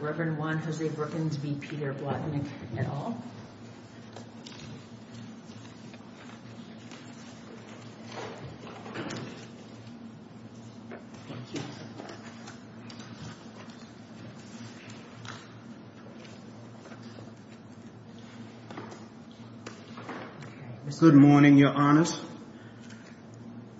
Reverend Juan Jose Brookins v. Peter Blotnick, et al. Good morning, Your Honors.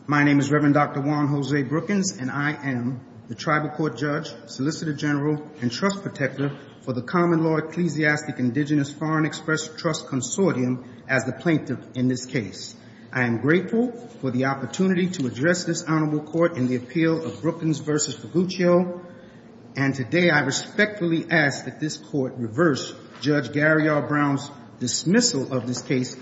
My name is Reverend Dr. Juan Jose Brookins, and I am the tribal court judge, solicitor general, and trust protector for the Common Law Ecclesiastic Indigenous Foreign Express Trust Consortium as the plaintiff in this case. I am grateful for the opportunity to address this honorable court in the appeal of Brookins v. Figuccio. And today, I respectfully ask that this court reverse Judge Gary R. Brown's dismissal of this case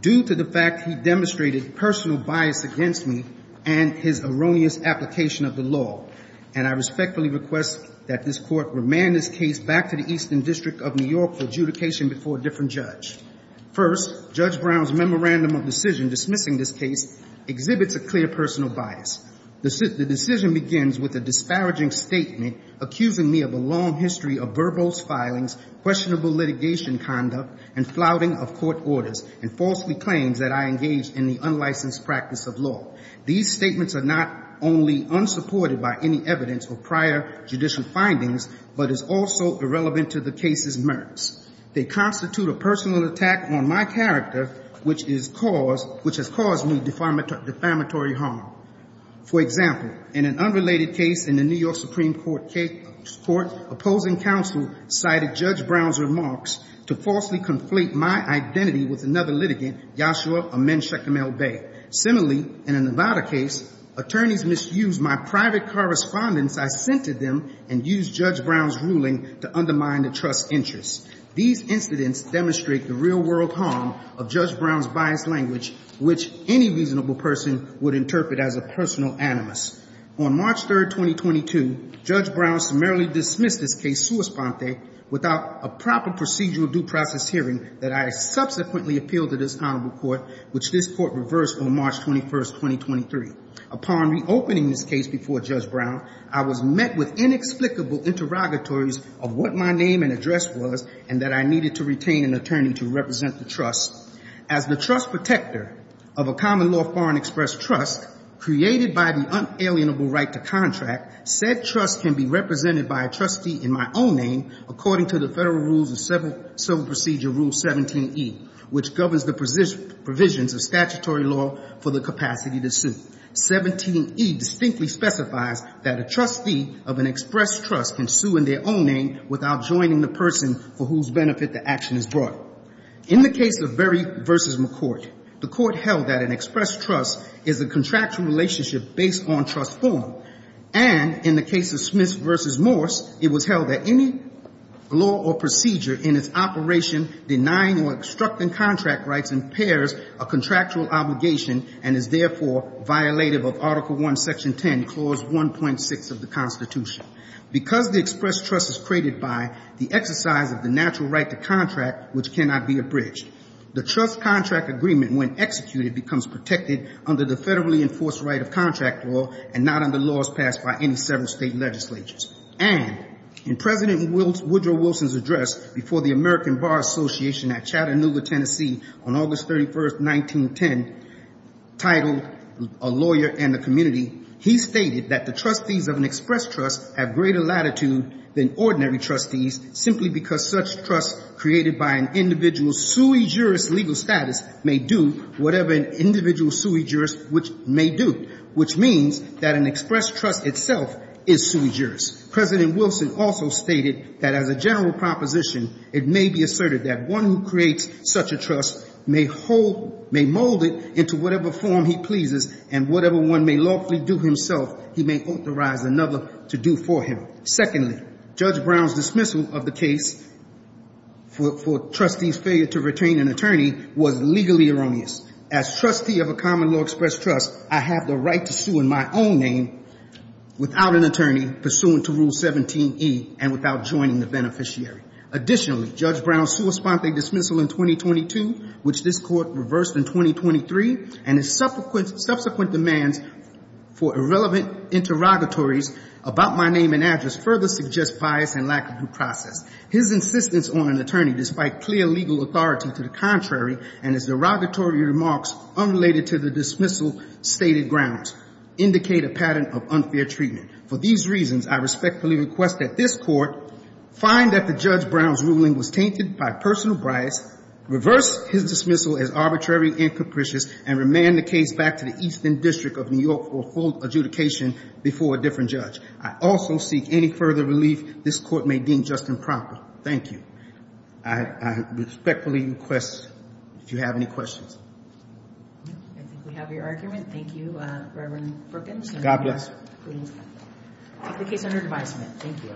due to the fact he demonstrated personal bias against me and his erroneous application of the law. And I respectfully request that this court remand this case back to the Eastern District of New York for adjudication before a different judge. First, Judge Brown's memorandum of decision dismissing this case exhibits a clear personal bias. The decision begins with a disparaging statement accusing me of a long history of verbose filings, questionable litigation conduct, and flouting of court orders, and falsely claims that I engaged in the unlicensed practice of law. These statements are not only unsupported by any evidence or prior judicial findings, but is also irrelevant to the case's merits. They constitute a personal attack on my character, which has caused me defamatory harm. For example, in an unrelated case in the New York Supreme Court, opposing counsel cited Judge Brown's remarks to falsely conflate my identity with another litigant, Joshua Amen Shechemel-Bey. Similarly, in a Nevada case, attorneys misused my private correspondence I sent to them and used Judge Brown's ruling to undermine the trust's interests. These incidents demonstrate the real-world harm of Judge Brown's biased language, which any reasonable person would interpret as a personal animus. On March 3, 2022, Judge Brown summarily dismissed this case sua sponte without a proper procedural due process hearing that I subsequently appealed to this Honorable Court, which this Court reversed on March 21, 2023. Upon reopening this case before Judge Brown, I was met with inexplicable interrogatories of what my name and address was, and that I needed to retain an attorney to represent the trust. As the trust protector of a common law foreign express trust created by the unalienable right to contract, said trust can be represented by a trustee in my own name, according to the Federal Rules of Civil Procedure Rule 17E, which governs the provisions of statutory law for the capacity to sue. 17E distinctly specifies that a trustee of an express trust can sue in their own name without joining the person for whose benefit the action is brought. In the case of Berry v. McCourt, the Court held that an express trust is a contractual relationship based on trust form. And in the case of Smith v. Morse, it was held that any law or procedure in its operation denying or obstructing contract rights impairs a contractual obligation and is therefore violative of Article I, Section 10, Clause 1.6 of the Constitution. Because the express trust is created by the exercise of the natural right to contract, which cannot be abridged, the trust contract agreement, when executed, becomes protected under the federally enforced right of contract law and not under laws passed by any several state legislatures. And in President Woodrow Wilson's address before the American Bar Association at Chattanooga, Tennessee, on August 31, 1910, titled A Lawyer and the Community, he stated that the trustees of an express trust have greater latitude than ordinary trustees simply because such trust created by an individual's sui juris legal status may do whatever an individual's sui juris may do, which means that an express trust itself is sui juris. President Wilson also stated that as a general proposition, it may be asserted that one who creates such a trust may mold it into whatever form he pleases and whatever one may lawfully do himself, he may authorize another to do for him. Secondly, Judge Brown's dismissal of the case for trustees' failure to retain an attorney was legally erroneous. As trustee of a common law express trust, I have the right to sue in my own name without an attorney pursuant to Rule 17E and without joining the beneficiary. Additionally, Judge Brown's sua sponte dismissal in 2022, which this Court reversed in 2023, and his subsequent demands for irrelevant interrogatories about my name and address further suggest bias and lack of due process. His insistence on an attorney despite clear legal authority to the contrary and his derogatory remarks unrelated to the dismissal stated grounds indicate a pattern of unfair treatment. For these reasons, I respectfully request that this Court find that the Judge Brown's ruling was tainted by personal bias, reverse his dismissal as arbitrary and capricious, and remand the case back to the Eastern District of New York for full adjudication before a different judge. I also seek any further relief this Court may deem just and proper. Thank you. I respectfully request, if you have any questions. I think we have your argument. Thank you, Reverend Brookings. God bless you. We take the case under advisement. Thank you.